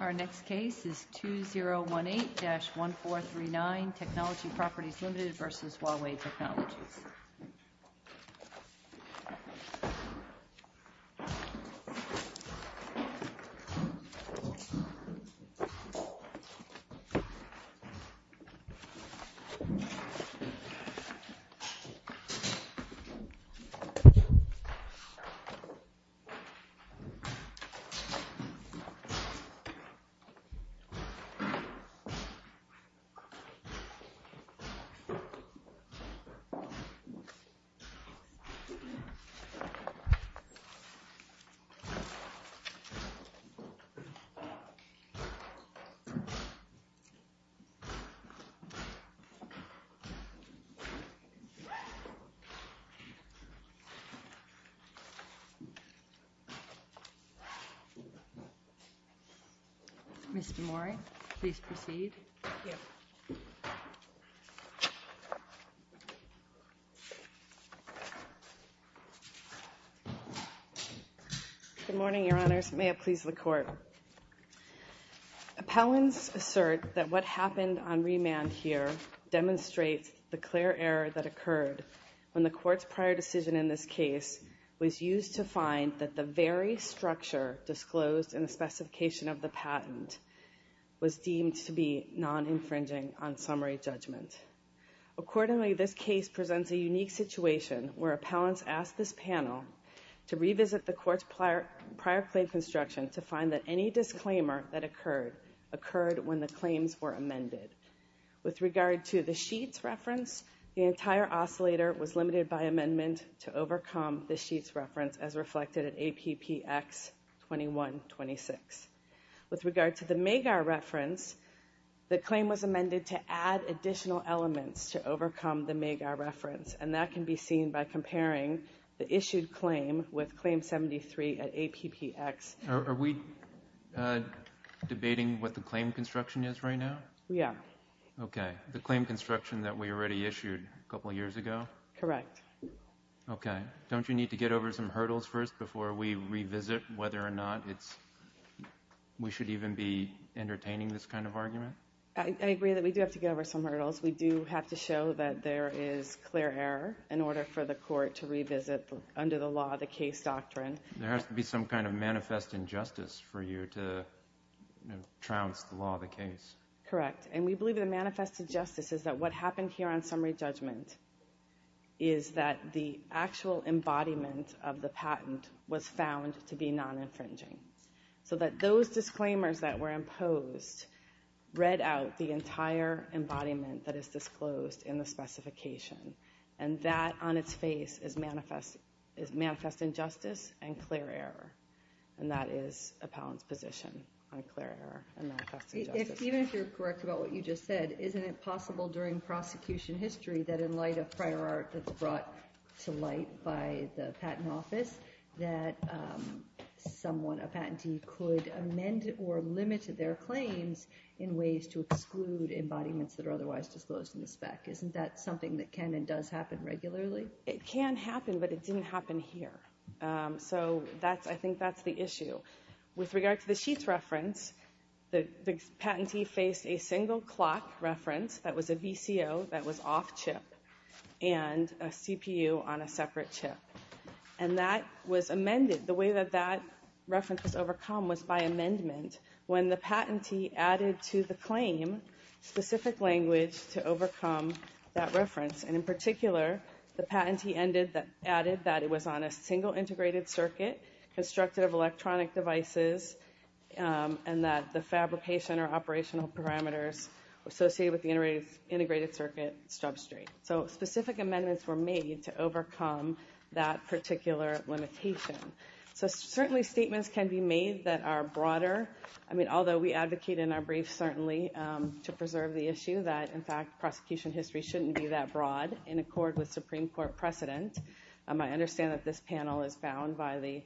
Our next case is 2018-1439, Technology Properties Limited v. Huawei Technologies Co., Ltd. Good morning, Your Honors. May it please the Court. Appellants assert that what happened on remand here demonstrates the clear error that occurred when the Court's prior decision in this case was used to find that the very structure disclosed in the specification of the patent was deemed to be non-infringing on summary judgment. Accordingly, this case presents a unique situation where appellants asked this panel to revisit the Court's prior claim construction to find that any disclaimer that occurred occurred when the claims were amended. With regard to the Sheetz reference, the entire oscillator was limited by amendment to overcome the Sheetz reference as reflected at APPX 2126. With regard to the Magar reference, the claim was amended to add additional elements to overcome the Magar reference, and that can be seen by comparing the issued claim with Claim 73 at APPX 2126. Are we debating what the claim construction is right now? Yeah. Okay. The claim construction that we already issued a couple of years ago? Correct. Okay. Don't you need to get over some hurdles first before we revisit whether or not we should even be entertaining this kind of argument? I agree that we do have to get over some hurdles. We do have to show that there is clear error in order for the Court to revisit under the law the case doctrine. There has to be some kind of manifest injustice for you to trounce the law of the case. Correct. And we believe that a manifest injustice is that what happened here on summary judgment is that the actual embodiment of the patent was found to be non-infringing. So that those disclaimers that were imposed read out the entire embodiment that is disclosed in the specification, and that on its face is manifest injustice and clear error. And that is Appellant's position on clear error and manifest injustice. Even if you're correct about what you just said, isn't it possible during prosecution history that in light of prior art that's brought to light by the Patent Office that someone, a patentee, could amend or limit their claims in ways to exclude embodiments that are otherwise disclosed in the spec? Isn't that something that can and does happen regularly? It can happen, but it didn't happen here. So I think that's the issue. With regard to the sheets reference, the patentee faced a single clock reference that was a VCO that was off-chip and a CPU on a separate chip. And that was amended, the way that that reference was overcome was by amendment when the patentee added to the claim specific language to overcome that reference. And in particular, the patentee added that it was on a single integrated circuit constructed of electronic devices and that the fabrication or operational parameters associated with the integrated circuit substrate. So specific amendments were made to overcome that particular limitation. So certainly statements can be made that are broader, although we advocate in our brief certainly to preserve the issue that in fact prosecution history shouldn't be that broad in accord with Supreme Court precedent. I understand that this panel is bound by the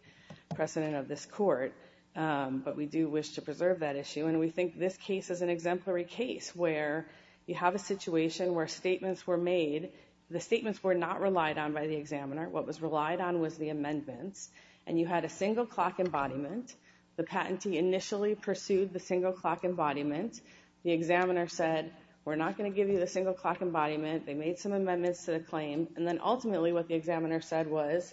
precedent of this court, but we do wish to preserve that issue. And we think this case is an exemplary case where you have a situation where statements were made, the statements were not relied on by the examiner. What was relied on was the amendments. And you had a single clock embodiment. The patentee initially pursued the single clock embodiment. The examiner said, we're not going to give you the single clock embodiment. They made some amendments to the claim. And then ultimately what the examiner said was,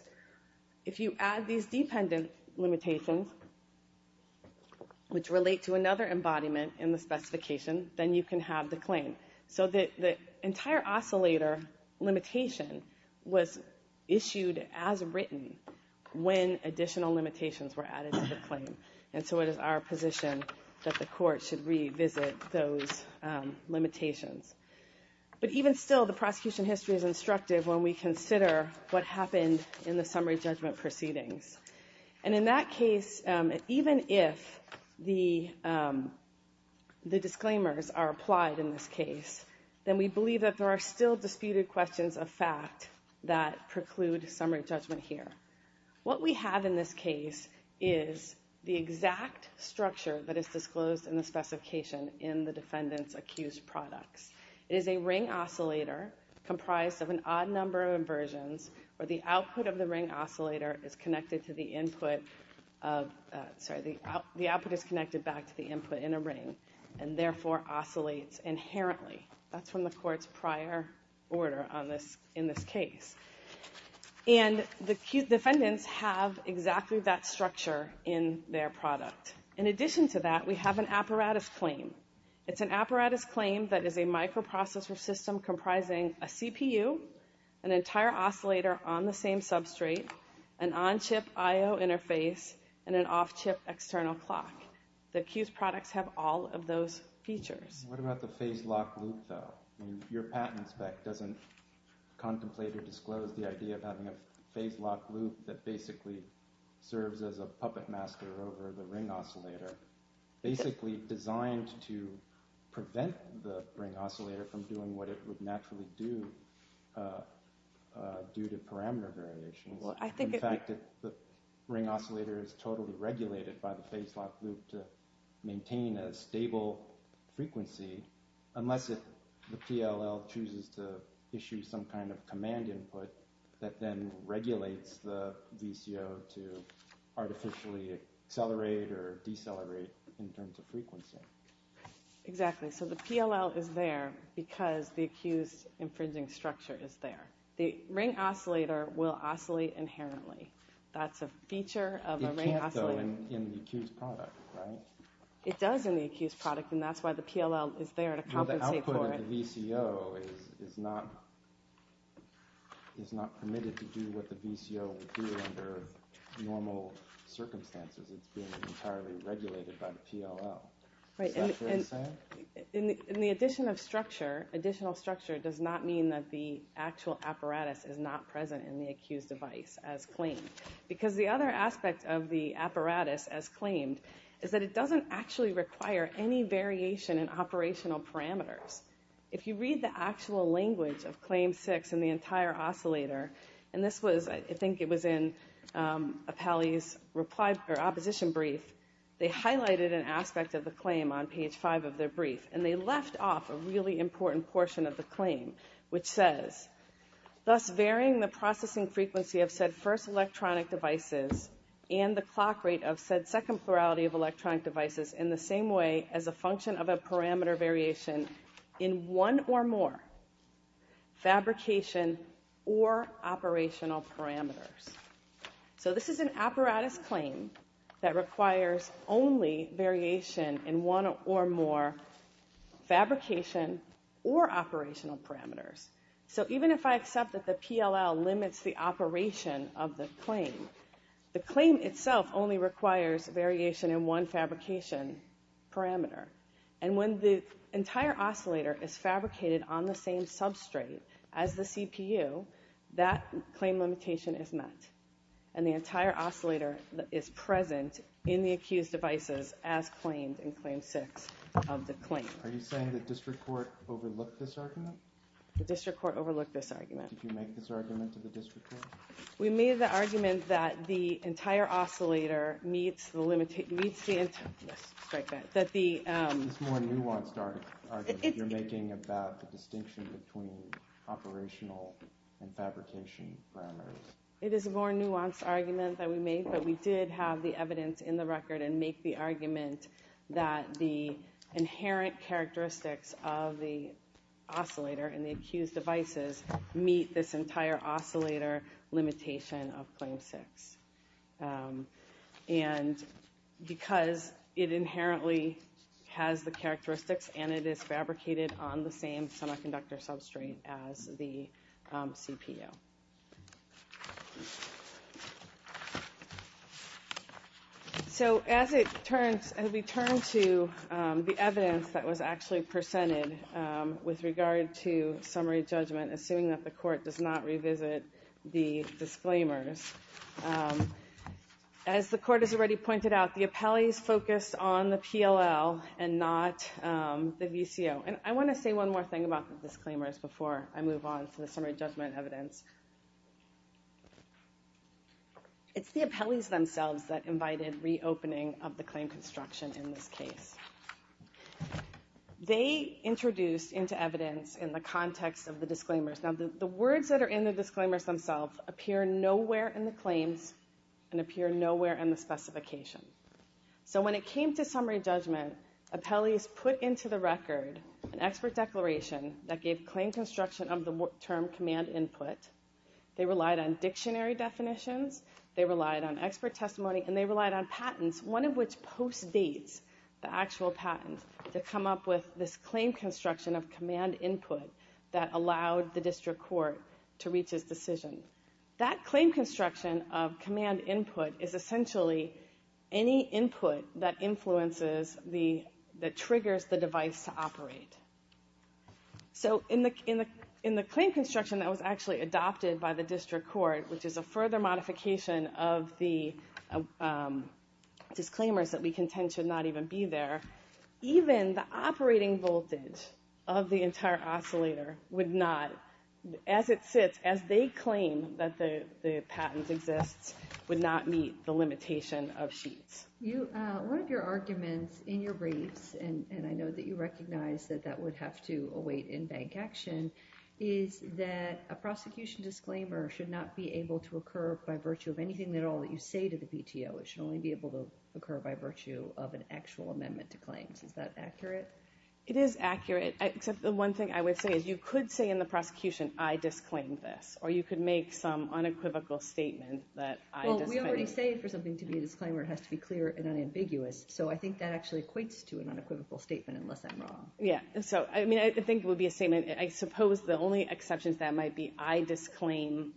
if you add these dependent limitations, which relate to another embodiment in the specification, then you can have the claim. So the entire oscillator limitation was issued as written when additional limitations were added to the claim. And so it is our position that the court should revisit those limitations. But even still, the prosecution history is instructive when we consider what happened in the summary judgment proceedings. And in that case, even if the disclaimers are applied in this case, then we believe that there are still disputed questions of fact that preclude summary judgment here. What we have in this case is the exact structure that is disclosed in the specification in the defendant's accused products. It is a ring oscillator comprised of an odd number of inversions, where the output of the ring oscillator is connected to the input of, sorry, the output is connected back to the input in a ring, and therefore oscillates inherently. That's from the court's prior order in this case. And the defendants have exactly that structure in their product. In addition to that, we have an apparatus claim. It's an apparatus claim that is a microprocessor system comprising a CPU, an entire oscillator on the same substrate, an on-chip I-O interface, and an off-chip external clock. The accused products have all of those features. What about the phase-lock loop, though? Your patent spec doesn't contemplate or disclose the idea of having a phase-lock loop that basically serves as a puppet master over the ring oscillator, basically designed to prevent the ring oscillator from doing what it would naturally do due to parameter variations. In fact, the ring oscillator is totally regulated by the phase-lock loop to maintain a stable frequency unless the PLL chooses to issue some kind of command input that then regulates the VCO to artificially accelerate or decelerate in terms of frequency. Exactly. So the PLL is there because the accused infringing structure is there. The ring oscillator will oscillate inherently. That's a feature of a ring oscillator. It can't, though, in the accused product, right? It does in the accused product, and that's why the PLL is there to compensate for it. But the VCO is not permitted to do what the VCO would do under normal circumstances. It's being entirely regulated by the PLL. Is that what you're saying? In the addition of structure, additional structure does not mean that the actual apparatus is not present in the accused device as claimed. Because the other aspect of the apparatus as claimed is that it doesn't actually require any variation in operational parameters. If you read the actual language of Claim 6 and the entire oscillator, and this was, I think it was in Appelli's opposition brief, they highlighted an aspect of the claim on page 5 of their brief, and they left off a really important portion of the claim, which says, thus varying the processing frequency of said first electronic devices and the clock rate of said second plurality of electronic devices in the same way as a function of a parameter variation in one or more fabrication or operational parameters. So this is an apparatus claim that requires only variation in one or more fabrication or operational parameters. So even if I accept that the PLL limits the operation of the claim, the claim itself only requires variation in one fabrication parameter. And when the entire oscillator is fabricated on the same substrate as the CPU, that claim limitation is met. And the entire oscillator is present in the accused devices as claimed in Claim 6 of the claim. Are you saying the district court overlooked this argument? The district court overlooked this argument. Did you make this argument to the district court? We made the argument that the entire oscillator meets the limits... Yes, strike that. That the... It's a more nuanced argument that you're making about the distinction between operational and fabrication parameters. It is a more nuanced argument that we made, but we did have the evidence in the record and make the argument that the inherent characteristics of the oscillator and the accused devices meet this entire oscillator limitation of Claim 6. And because it inherently has the characteristics and it is fabricated on the same semiconductor substrate as the CPU. So as it turns, as we turn to the evidence that was actually presented with regard to the summary judgment, assuming that the court does not revisit the disclaimers, as the court has already pointed out, the appellees focused on the PLL and not the VCO. And I want to say one more thing about the disclaimers before I move on to the summary judgment evidence. It's the appellees themselves that invited reopening of the claim construction in this case. They introduced into evidence in the context of the disclaimers. Now the words that are in the disclaimers themselves appear nowhere in the claims and appear nowhere in the specification. So when it came to summary judgment, appellees put into the record an expert declaration that gave claim construction of the term command input. They relied on dictionary definitions, they relied on expert testimony, and they relied on patents, one of which postdates the actual patent to come up with this claim construction of command input that allowed the district court to reach its decision. That claim construction of command input is essentially any input that influences the, that triggers the device to operate. So in the claim construction that was actually adopted by the district court, which is a set of disclaimers that we contend should not even be there, even the operating voltage of the entire oscillator would not, as it sits, as they claim that the patent exists, would not meet the limitation of sheets. One of your arguments in your briefs, and I know that you recognize that that would have to await in-bank action, is that a prosecution disclaimer should not be able to occur by virtue of an actual amendment to claims, is that accurate? It is accurate, except the one thing I would say is you could say in the prosecution, I disclaimed this, or you could make some unequivocal statement that I disclaimed. Well, we already say for something to be a disclaimer it has to be clear and unambiguous, so I think that actually equates to an unequivocal statement, unless I'm wrong. Yeah, so, I mean, I think it would be a statement, I suppose the only exceptions that might be I disclaim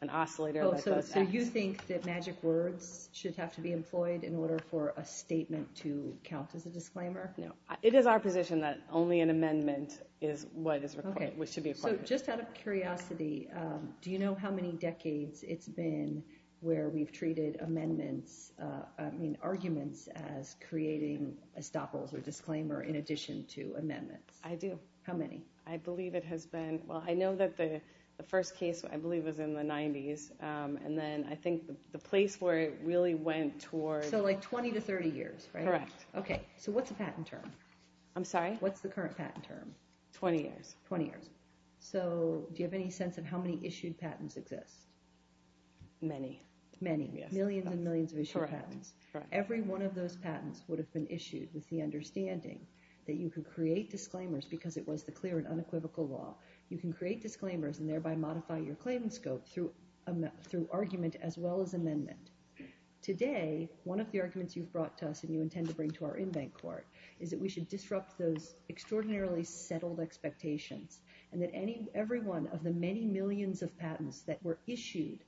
an oscillator. Oh, so you think that magic words should have to be employed in order for a statement to count as a disclaimer? No. It is our position that only an amendment is what is required, which should be a part of it. Okay, so just out of curiosity, do you know how many decades it's been where we've treated amendments, I mean arguments, as creating estoppels or disclaimer in addition to amendments? I do. How many? I believe it has been, well, I know that the first case I believe was in the 90s, and then I think the place where it really went towards So like 20 to 30 years, right? Correct. Okay, so what's the patent term? I'm sorry? What's the current patent term? 20 years. 20 years. So, do you have any sense of how many issued patents exist? Many. Many. Yes. Millions and millions of issued patents. Correct. Every one of those patents would have been issued with the understanding that you could create disclaimers because it was the clear and unequivocal law. You can create disclaimers and thereby modify your claim scope through argument as well as amendment. Today, one of the arguments you've brought to us and you intend to bring to our in-bank court is that we should disrupt those extraordinarily settled expectations, and that every one of the many millions of patents that were issued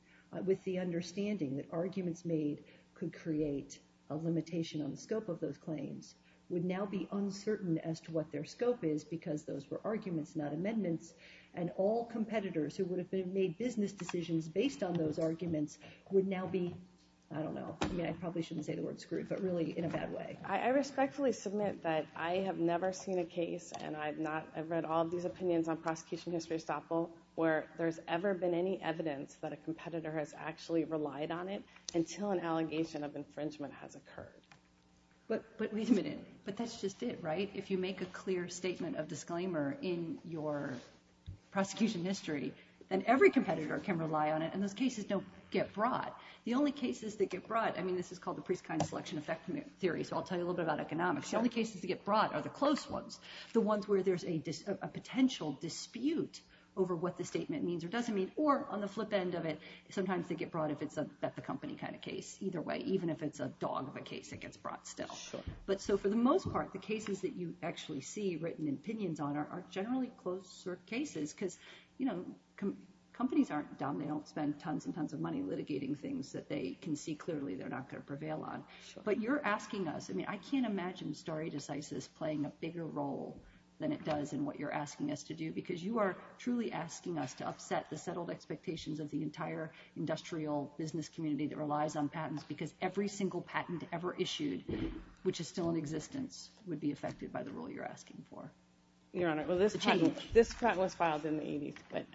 with the understanding that arguments made could create a limitation on the scope of those claims would now be uncertain as to what their scope is because those were arguments, not amendments, and all competitors who would have made business decisions based on those arguments would now be, I don't know, I probably shouldn't say the word screwed, but really in a bad way. I respectfully submit that I have never seen a case, and I've read all of these opinions on prosecution history, where there's ever been any evidence that a competitor has actually relied on it until an allegation of infringement has occurred. But wait a minute. But that's just it, right? If you make a clear statement of disclaimer in your prosecution history, then every competitor can rely on it, and those cases don't get brought. The only cases that get brought, I mean, this is called the Priestkind Selection Effect Theory, so I'll tell you a little bit about economics. The only cases that get brought are the close ones, the ones where there's a potential dispute over what the statement means or doesn't mean, or on the flip end of it, sometimes they get brought if it's a bet-the-company kind of case. Either way, even if it's a dog of a case, it gets brought still. So for the most part, the cases that you actually see written opinions on are generally closer cases, because companies aren't dumb. They don't spend tons and tons of money litigating things that they can see clearly they're not going to prevail on. But you're asking us, I mean, I can't imagine stare decisis playing a bigger role than it does in what you're asking us to do, because you are truly asking us to upset the settled expectations of the entire industrial business community that relies on patents, because every single patent ever issued, which is still in existence, would be affected by the rule you're asking for. Your Honor, well, this patent was filed in the 80s, but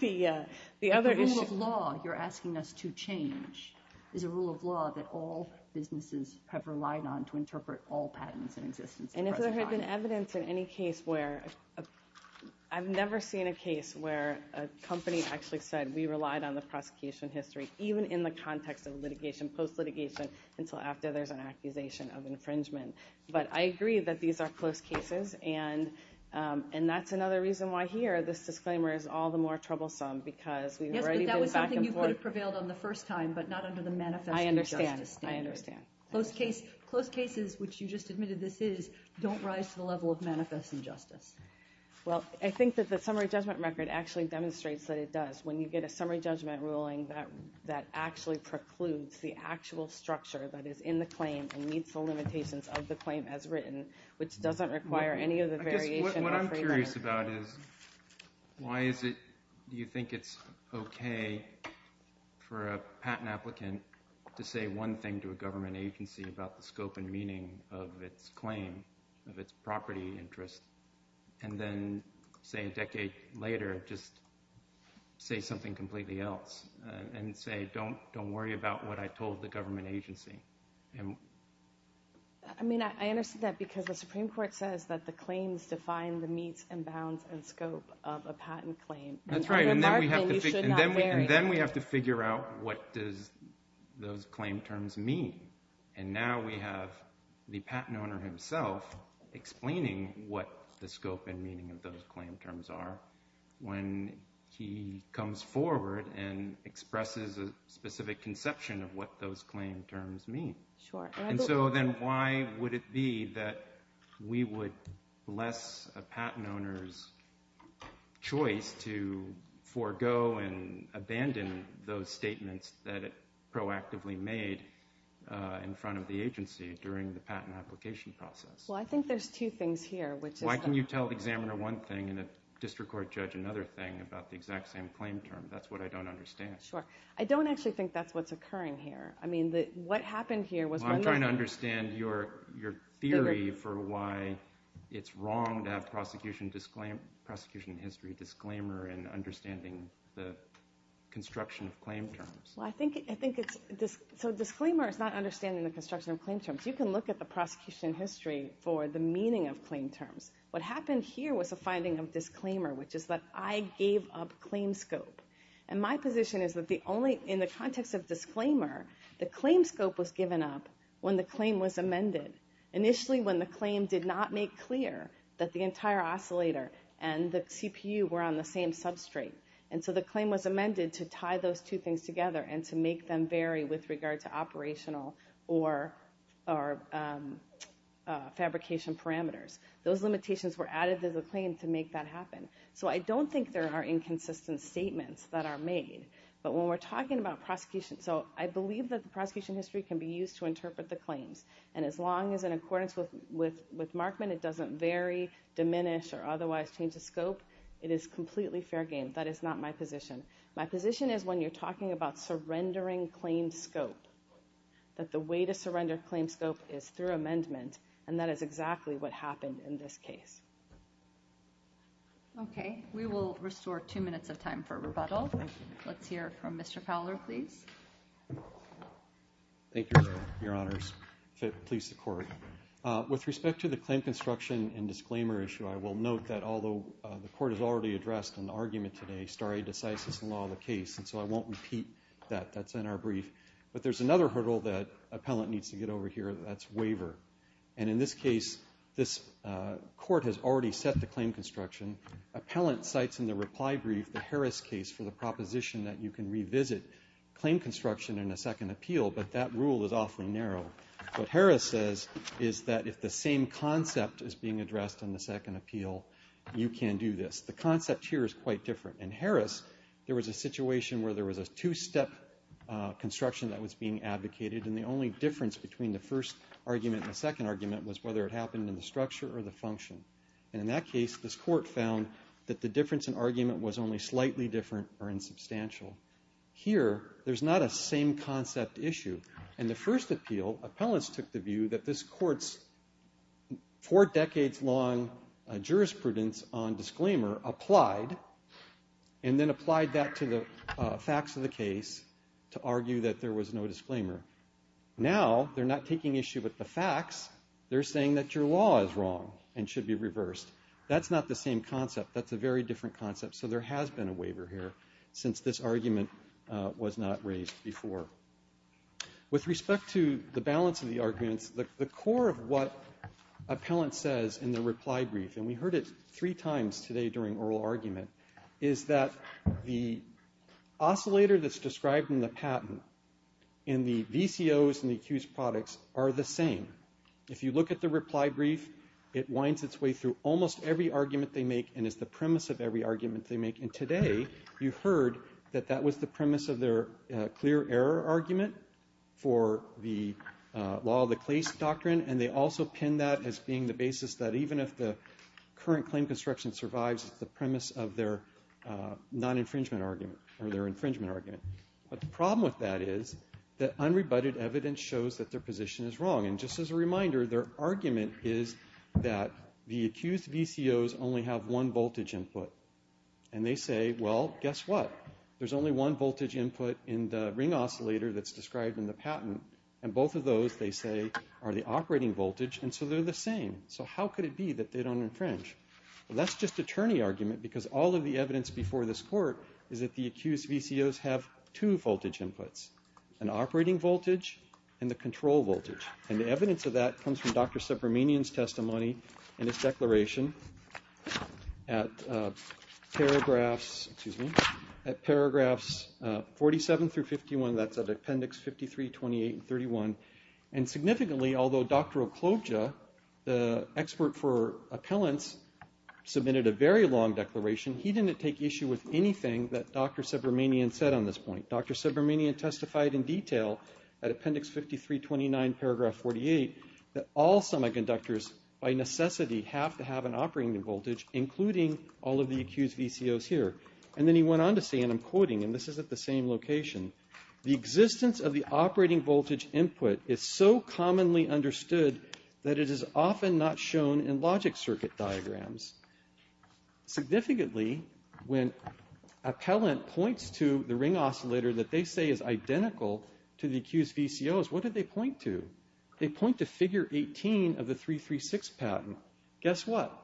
the other issue- The rule of law you're asking us to change is a rule of law that all businesses have relied on to interpret all patents in existence. And if there had been evidence in any case where-I've never seen a case where a company actually said we relied on the prosecution history, even in the context of litigation, post-litigation, until after there's an accusation of infringement. But I agree that these are close cases, and that's another reason why here this disclaimer is all the more troublesome, because we've already been back and forth- Yes, but that was something you could have prevailed on the first time, but not under the manifest injustice standard. I understand. I understand. Close cases, which you just admitted this is, don't rise to the level of manifest injustice. Well, I think that the summary judgment record actually demonstrates that it does. When you get a summary judgment ruling, that actually precludes the actual structure that is in the claim and meets the limitations of the claim as written, which doesn't require any of the variation- I guess what I'm curious about is, why is it-do you think it's okay for a patent applicant to say one thing to a government agency about the scope and meaning of its claim, of its property interest, and then, say, a decade later, just say something completely else, and say, don't worry about what I told the government agency? I mean, I understand that, because the Supreme Court says that the claims define the meets and bounds and scope of a patent claim. That's right. And then we have to figure out what does those claim terms mean? And now we have the patent owner himself explaining what the scope and meaning of those claim terms are when he comes forward and expresses a specific conception of what those claim terms mean. Sure. And so then why would it be that we would bless a patent owner's choice to forego and in front of the agency during the patent application process? Well, I think there's two things here, which is- Why can you tell the examiner one thing and a district court judge another thing about the exact same claim term? That's what I don't understand. Sure. I don't actually think that's what's occurring here. I mean, what happened here was- Well, I'm trying to understand your theory for why it's wrong to have prosecution history disclaimer in understanding the construction of claim terms. Well, I think it's- So disclaimer is not understanding the construction of claim terms. You can look at the prosecution history for the meaning of claim terms. What happened here was a finding of disclaimer, which is that I gave up claim scope. And my position is that in the context of disclaimer, the claim scope was given up when the claim was amended, initially when the claim did not make clear that the entire oscillator and the CPU were on the same substrate. And so the claim was amended to tie those two things together and to make them vary with regard to operational or fabrication parameters. Those limitations were added to the claim to make that happen. So I don't think there are inconsistent statements that are made. But when we're talking about prosecution- So I believe that the prosecution history can be used to interpret the claims. And as long as in accordance with Markman, it doesn't vary, diminish, or otherwise change the scope, it is completely fair game. That is not my position. My position is when you're talking about surrendering claim scope, that the way to surrender claim scope is through amendment. And that is exactly what happened in this case. Okay. We will restore two minutes of time for rebuttal. Thank you. Let's hear from Mr. Fowler, please. Thank you, Your Honors. Please, the Court. With respect to the claim construction and disclaimer issue, I will note that although the Court has already addressed an argument today, stare decisis in law of the case. And so I won't repeat that. That's in our brief. But there's another hurdle that appellant needs to get over here. That's waiver. And in this case, this Court has already set the claim construction. Appellant cites in the reply brief the Harris case for the proposition that you can revisit claim construction in a second appeal. But that rule is awfully narrow. What Harris says is that if the same concept is being addressed in the second appeal, you can do this. The concept here is quite different. In Harris, there was a situation where there was a two-step construction that was being advocated. And the only difference between the first argument and the second argument was whether it happened in the structure or the function. And in that case, this Court found that the difference in argument was only slightly different or insubstantial. Here, there's not a same concept issue. In the first appeal, appellants took the view that this Court's four decades-long jurisprudence on disclaimer applied and then applied that to the facts of the case to argue that there was no disclaimer. Now, they're not taking issue with the facts. They're saying that your law is wrong and should be reversed. That's not the same concept. That's a very different concept. So there has been a waiver here since this argument was not raised before. With respect to the balance of the arguments, the core of what appellant says in the reply brief, and we heard it three times today during oral argument, is that the oscillator that's described in the patent in the VCOs and the accused products are the same. If you look at the reply brief, it winds its way through almost every argument they make and is the premise of every argument they make. And today, you heard that that was the premise of their clear error argument for the law of the case doctrine, and they also pin that as being the basis that even if the current claim construction survives, it's the premise of their non-infringement argument or their infringement argument. But the problem with that is that unrebutted evidence shows that their position is wrong. And just as a reminder, their argument is that the accused VCOs only have one voltage input. And they say, well, guess what? There's only one voltage input in the ring oscillator that's described in the patent, and both of those, they say, are the operating voltage, and so they're the same. So how could it be that they don't infringe? Well, that's just attorney argument because all of the evidence before this court is that the accused VCOs have two voltage inputs, an operating voltage and the control voltage. And the evidence of that comes from Dr. Subramanian's testimony in his declaration at paragraphs 47 through 51, that's at appendix 53, 28, and 31. And significantly, although Dr. Okloja, the expert for appellants, submitted a very long declaration, he didn't take issue with anything that Dr. Subramanian said on this point. Dr. Subramanian testified in detail at appendix 53, 29, paragraph 48, that all semiconductors by necessity have to have an operating voltage, including all of the accused VCOs here. And then he went on to say, and I'm quoting, and this is at the same location, the existence of the operating voltage input is so commonly understood that it is often not shown in logic circuit diagrams. Significantly, when appellant points to the ring oscillator that they say is identical to the accused VCOs, what do they point to? They point to figure 18 of the 336 patent. Guess what?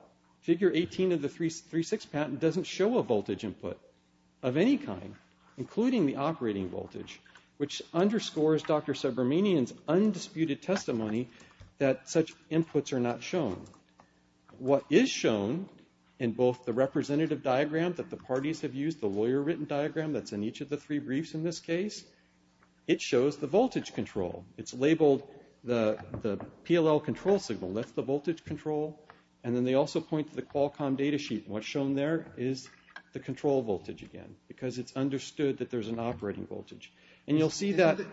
Figure 18 of the 336 patent doesn't show a voltage input of any kind, including the operating voltage, which underscores Dr. Subramanian's undisputed testimony that such inputs are not shown. What is shown in both the representative diagram that the parties have used, the lawyer-written diagram that's in each of the three briefs in this case, it shows the voltage control. It's labeled the PLL control signal. That's the voltage control. And then they also point to the Qualcomm data sheet, and what's shown there is the control voltage again, because it's understood that there's an operating voltage. And you'll see that... On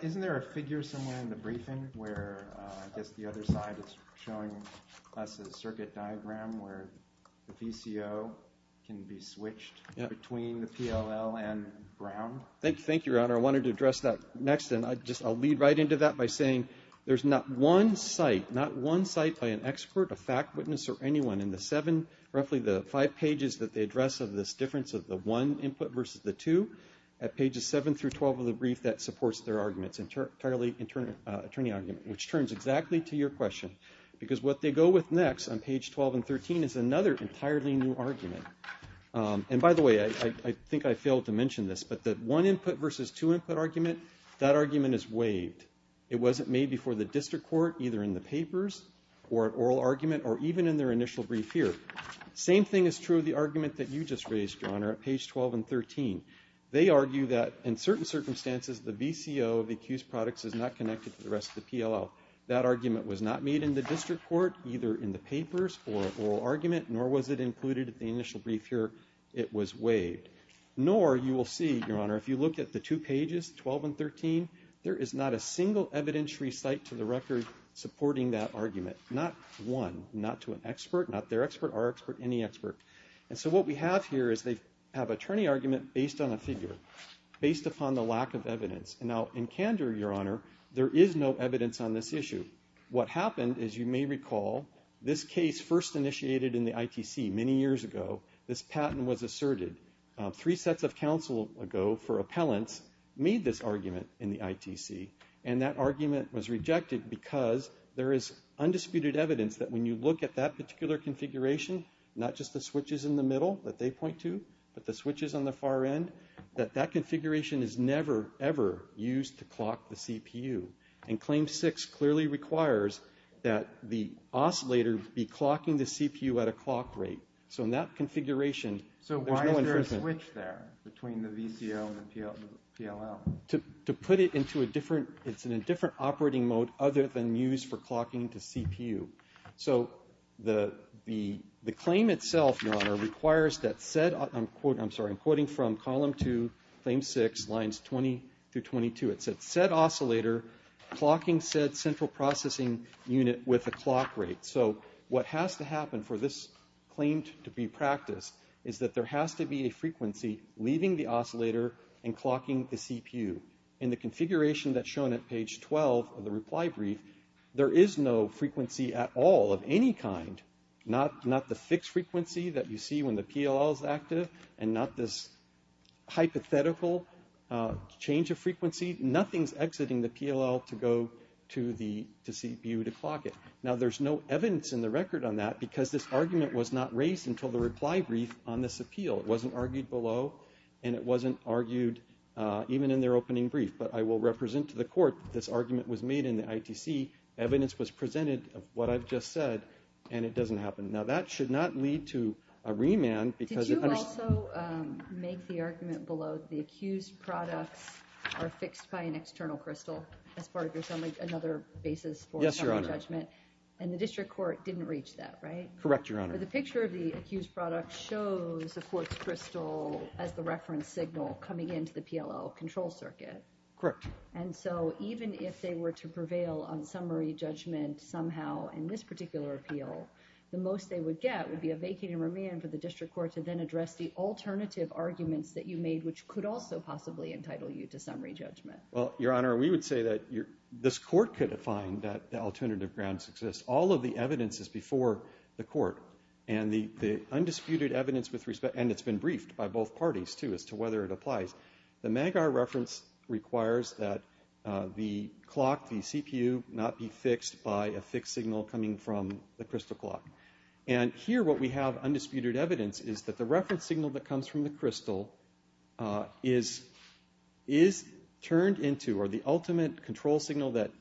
this side, it's showing us a circuit diagram where the VCO can be switched between the PLL and Brown. Thank you, Your Honor. I wanted to address that next, and I'll lead right into that by saying there's not one site, not one site by an expert, a fact witness, or anyone in the seven, roughly the five pages that they address of this difference of the one input versus the two. At pages 7 through 12 of the brief, that supports their arguments, entirely attorney argument, which turns exactly to your question. Because what they go with next on page 12 and 13 is another entirely new argument. And by the way, I think I failed to mention this, but the one input versus two input argument, that argument is waived. It wasn't made before the district court, either in the papers or oral argument, or even in their initial brief here. Same thing is true of the argument that you just raised, Your Honor, at page 12 and 13. They argue that in certain circumstances, the VCO of the accused products is not connected to the rest of the PLL. That argument was not made in the district court, either in the papers or oral argument, nor was it included in the initial brief here. It was waived. Nor, you will see, Your Honor, if you look at the two pages, 12 and 13, there is not a single evidentiary site to the record supporting that argument. Not one, not to an expert, not their expert, our expert, any expert. And so what we have here is they have attorney argument based on a figure, based upon the lack of evidence. Now, in candor, Your Honor, there is no evidence on this issue. What happened, as you may recall, this case first initiated in the ITC many years ago. This patent was asserted. Three sets of counsel ago for appellants made this argument in the ITC, and that argument was rejected because there is undisputed evidence that when you look at that particular configuration, not just the switches in the middle that they point to, but the switches on the far end, that that configuration is never, ever used to clock the CPU. And Claim 6 clearly requires that the oscillator be clocking the CPU at a clock rate. So in that configuration, there's no inference. So why is there a switch there between the VCO and the PLL? To put it into a different, it's in a different operating mode other than used for clocking the CPU. So the claim itself, Your Honor, requires that said, I'm quoting from Column 2, Claim 6, Lines 20 through 22. It said, said oscillator clocking said central processing unit with a clock rate. So what has to happen for this claim to be practiced is that there has to be a frequency leaving the oscillator and clocking the CPU. In the configuration that's shown at page 12 of the reply brief, there is no frequency at all of any kind. Not the fixed frequency that you see when the PLL is active and not this hypothetical change of frequency. Nothing's exiting the PLL to go to the CPU to clock it. Now there's no evidence in the record on that because this argument was not raised until the reply brief on this appeal. It wasn't argued below and it wasn't argued even in their opening brief. But I will represent to the court that this argument was made in the ITC. Evidence was presented of what I've just said and it doesn't happen. Now that should not lead to a remand because... Did you also make the argument below that the accused products are fixed by an external crystal as part of another basis for summary judgment? Yes, Your Honor. And the district court didn't reach that, right? Correct, Your Honor. But the picture of the accused product shows the court's crystal as the reference signal coming into the PLL control circuit. Correct. And so even if they were to prevail on summary judgment somehow in this particular appeal, the most they would get would be a vacant remand for the district court to then address the alternative arguments that you made which could also possibly entitle you to summary judgment. Well, Your Honor, we would say that this court could find that the alternative grounds exist. All of the evidence is before the court. And the undisputed evidence with respect... And it's been briefed by both parties too as to whether it applies. The MAGAR reference requires that the clock, the CPU, not be fixed by a fixed signal coming from the crystal clock. And here what we have, undisputed evidence, is that the reference signal that comes from the crystal is turned into, or the ultimate control signal that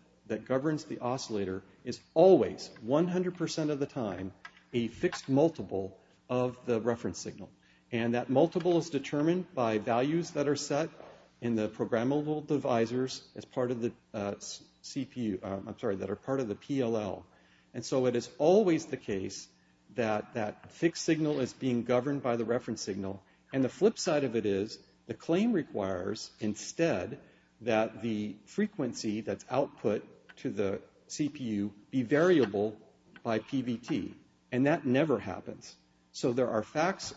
governs the oscillator is always, 100% of the time, a fixed multiple of the reference signal. And that multiple is determined by values that are set in the programmable divisors as part of the CPU... I'm sorry, that are part of the PLL. And so it is always the case that that fixed signal is being governed by the reference signal. And the flip side of it is the claim requires instead that the frequency that's output to the CPU be variable by PVT. And that never happens. So there are facts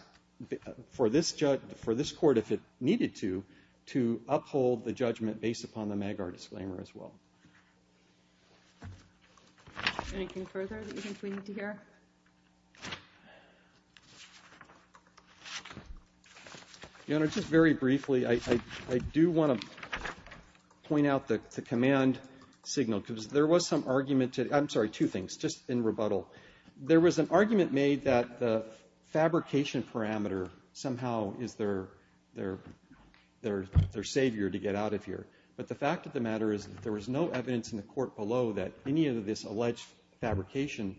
for this court, if it needed to, to uphold the judgment based upon the MAGAR disclaimer as well. Anything further that you think we need to hear? Your Honor, just very briefly, I do want to point out the command signal. Because there was some argument, I'm sorry, two things, just in rebuttal. There was an argument made that the fabrication parameter somehow is their savior to get out of here. But the fact of the matter is that there was no evidence in the court below that any of this alleged fabrication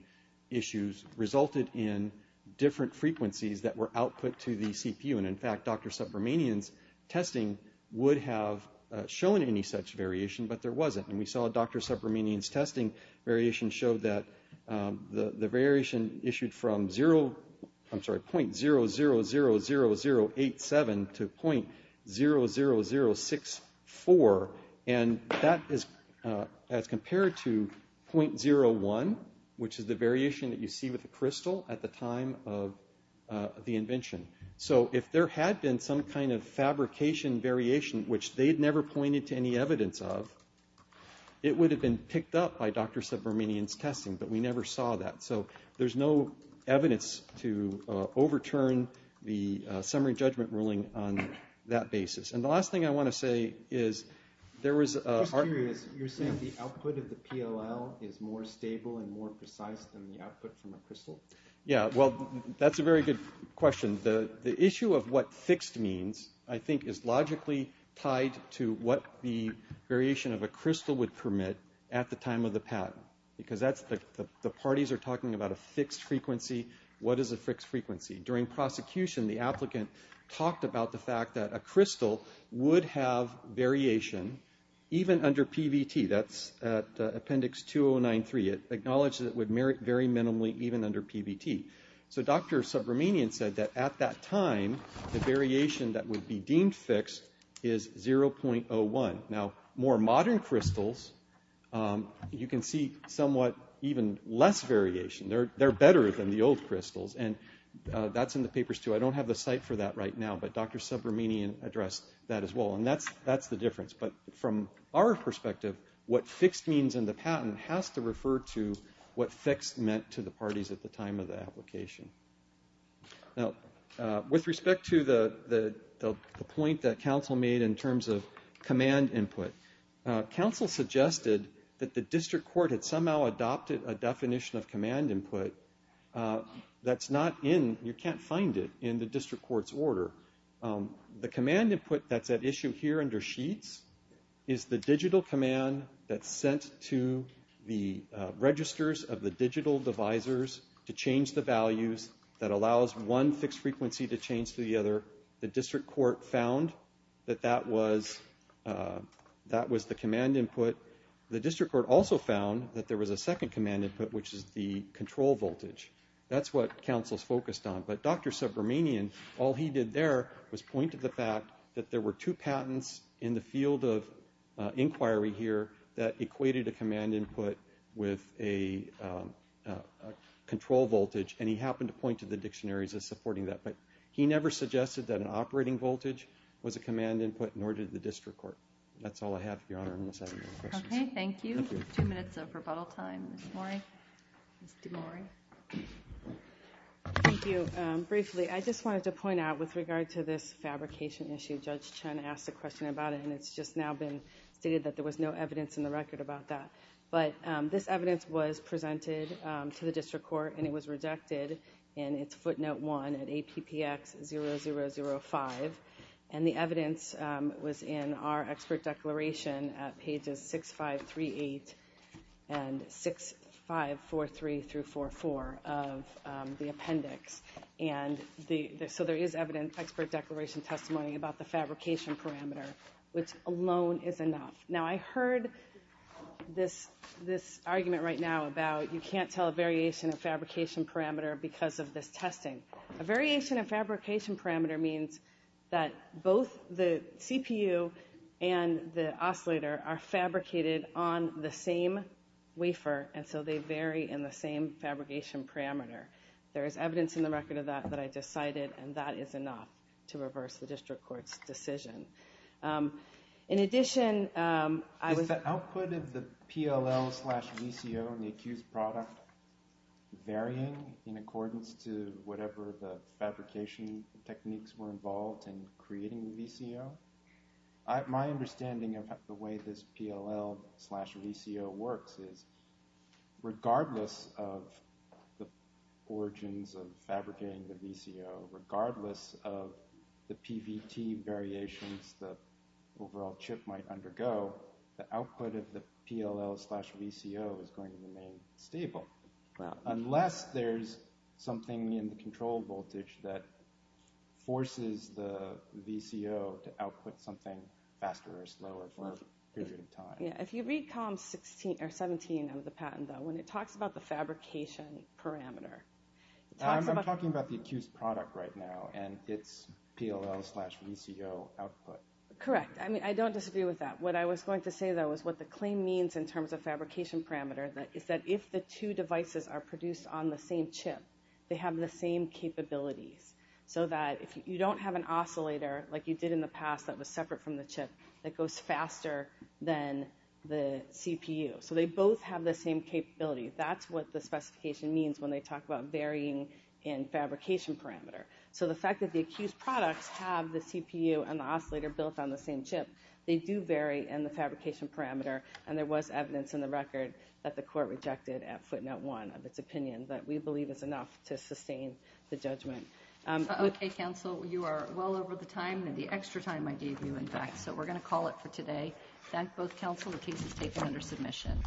issues resulted in different frequencies that were output to the CPU. And in fact, Dr. Subramanian's testing would have shown any such variation, but there wasn't. And we saw Dr. Subramanian's testing variation showed that the variation issued from 0... I'm sorry, .0000087 to .00064. And that is as compared to .01, which is the variation that you see with the crystal at the time of the invention. So if there had been some kind of fabrication variation, which they had never pointed to any evidence of, it would have been picked up by Dr. Subramanian's testing, but we never saw that. So there's no evidence to overturn the summary judgment ruling on that basis. And the last thing I want to say is there was... I'm just curious, you're saying the output of the PLL is more stable and more precise than the output from a crystal? Yeah, well, that's a very good question. The issue of what fixed means, I think, is logically tied to what the variation of a crystal would permit at the time of the patent. Because the parties are talking about a fixed frequency. What is a fixed frequency? During prosecution, the applicant talked about the fact that a crystal would have variation even under PVT. That's at appendix 2093. It acknowledged that it would vary minimally even under PVT. So Dr. Subramanian said that at that time, the variation that would be deemed fixed is 0.01. Now, more modern crystals, you can see somewhat even less variation. They're better than the old crystals. And that's in the papers, too. I don't have the site for that right now, but Dr. Subramanian addressed that as well. And that's the difference. But from our perspective, what fixed means in the patent has to refer to what fixed meant to the parties at the time of the application. Now, with respect to the point that counsel made in terms of command input, counsel suggested that the district court had somehow adopted a definition of command input that's not in, you can't find it in the district court's order. The command input that's at issue here under sheets is the digital command that's sent to the registers of the digital divisors to change the values that allows one fixed frequency to change to the other. The district court found that that was the command input. The district court also found that there was a second command input, which is the control voltage. That's what counsel's focused on. But Dr. Subramanian, all he did there was point to the fact that there were two patents in the field of inquiry here that equated a command input with a control voltage. And he happened to point to the dictionaries as supporting that. But he never suggested that an operating voltage was a command input, nor did the district court. That's all I have, Your Honor, unless I have any more questions. Okay, thank you. Two minutes of rebuttal time. Ms. DeMore. Thank you. Briefly, I just wanted to point out with regard to this fabrication issue, Judge Chen asked a question about it, and it's just now been stated that there was no evidence in the record about that. But this evidence was presented to the district court, and it was rejected in its footnote 1 at APPX 0005. And the evidence was in our expert declaration at pages 6538 and 6543-44 of the appendix. So there is expert declaration testimony about the fabrication parameter, which alone is enough. Now, I heard this argument right now about you can't tell a variation of fabrication parameter because of this testing. A variation of fabrication parameter means that both the CPU and the oscillator are fabricated on the same wafer, and so they vary in the same fabrication parameter. There is evidence in the record of that that I just cited, and that is enough to reverse the district court's decision. In addition, I was- Is the output of the PLL slash VCO in the accused product varying in accordance to whatever the fabrication techniques were involved in creating the VCO? My understanding of the way this PLL slash VCO works is regardless of the origins of fabricating the VCO, regardless of the PVT variations the overall chip might undergo, the output of the PLL slash VCO is going to remain stable. Unless there's something in the control voltage that forces the VCO to output something faster or slower for a period of time. Yeah, if you read column 17 of the patent though, when it talks about the fabrication parameter, it talks about- I'm talking about the accused product right now, and it's PLL slash VCO output. Correct. I mean, I don't disagree with that. What I was going to say though is what the claim means in terms of fabrication parameter is that if the two devices are produced on the same chip, they have the same capabilities. So that if you don't have an oscillator like you did in the past that was separate from the chip, that goes faster than the CPU. So they both have the same capability. That's what the specification means when they talk about varying in fabrication parameter. So the fact that the accused products have the CPU and the oscillator built on the same chip, they do vary in the fabrication parameter. And there was evidence in the record that the court rejected at footnote one of its opinion. But we believe it's enough to sustain the judgment. Okay, counsel, you are well over the time and the extra time I gave you, in fact. So we're going to call it for today. Thank both counsel. The case is taken under submission.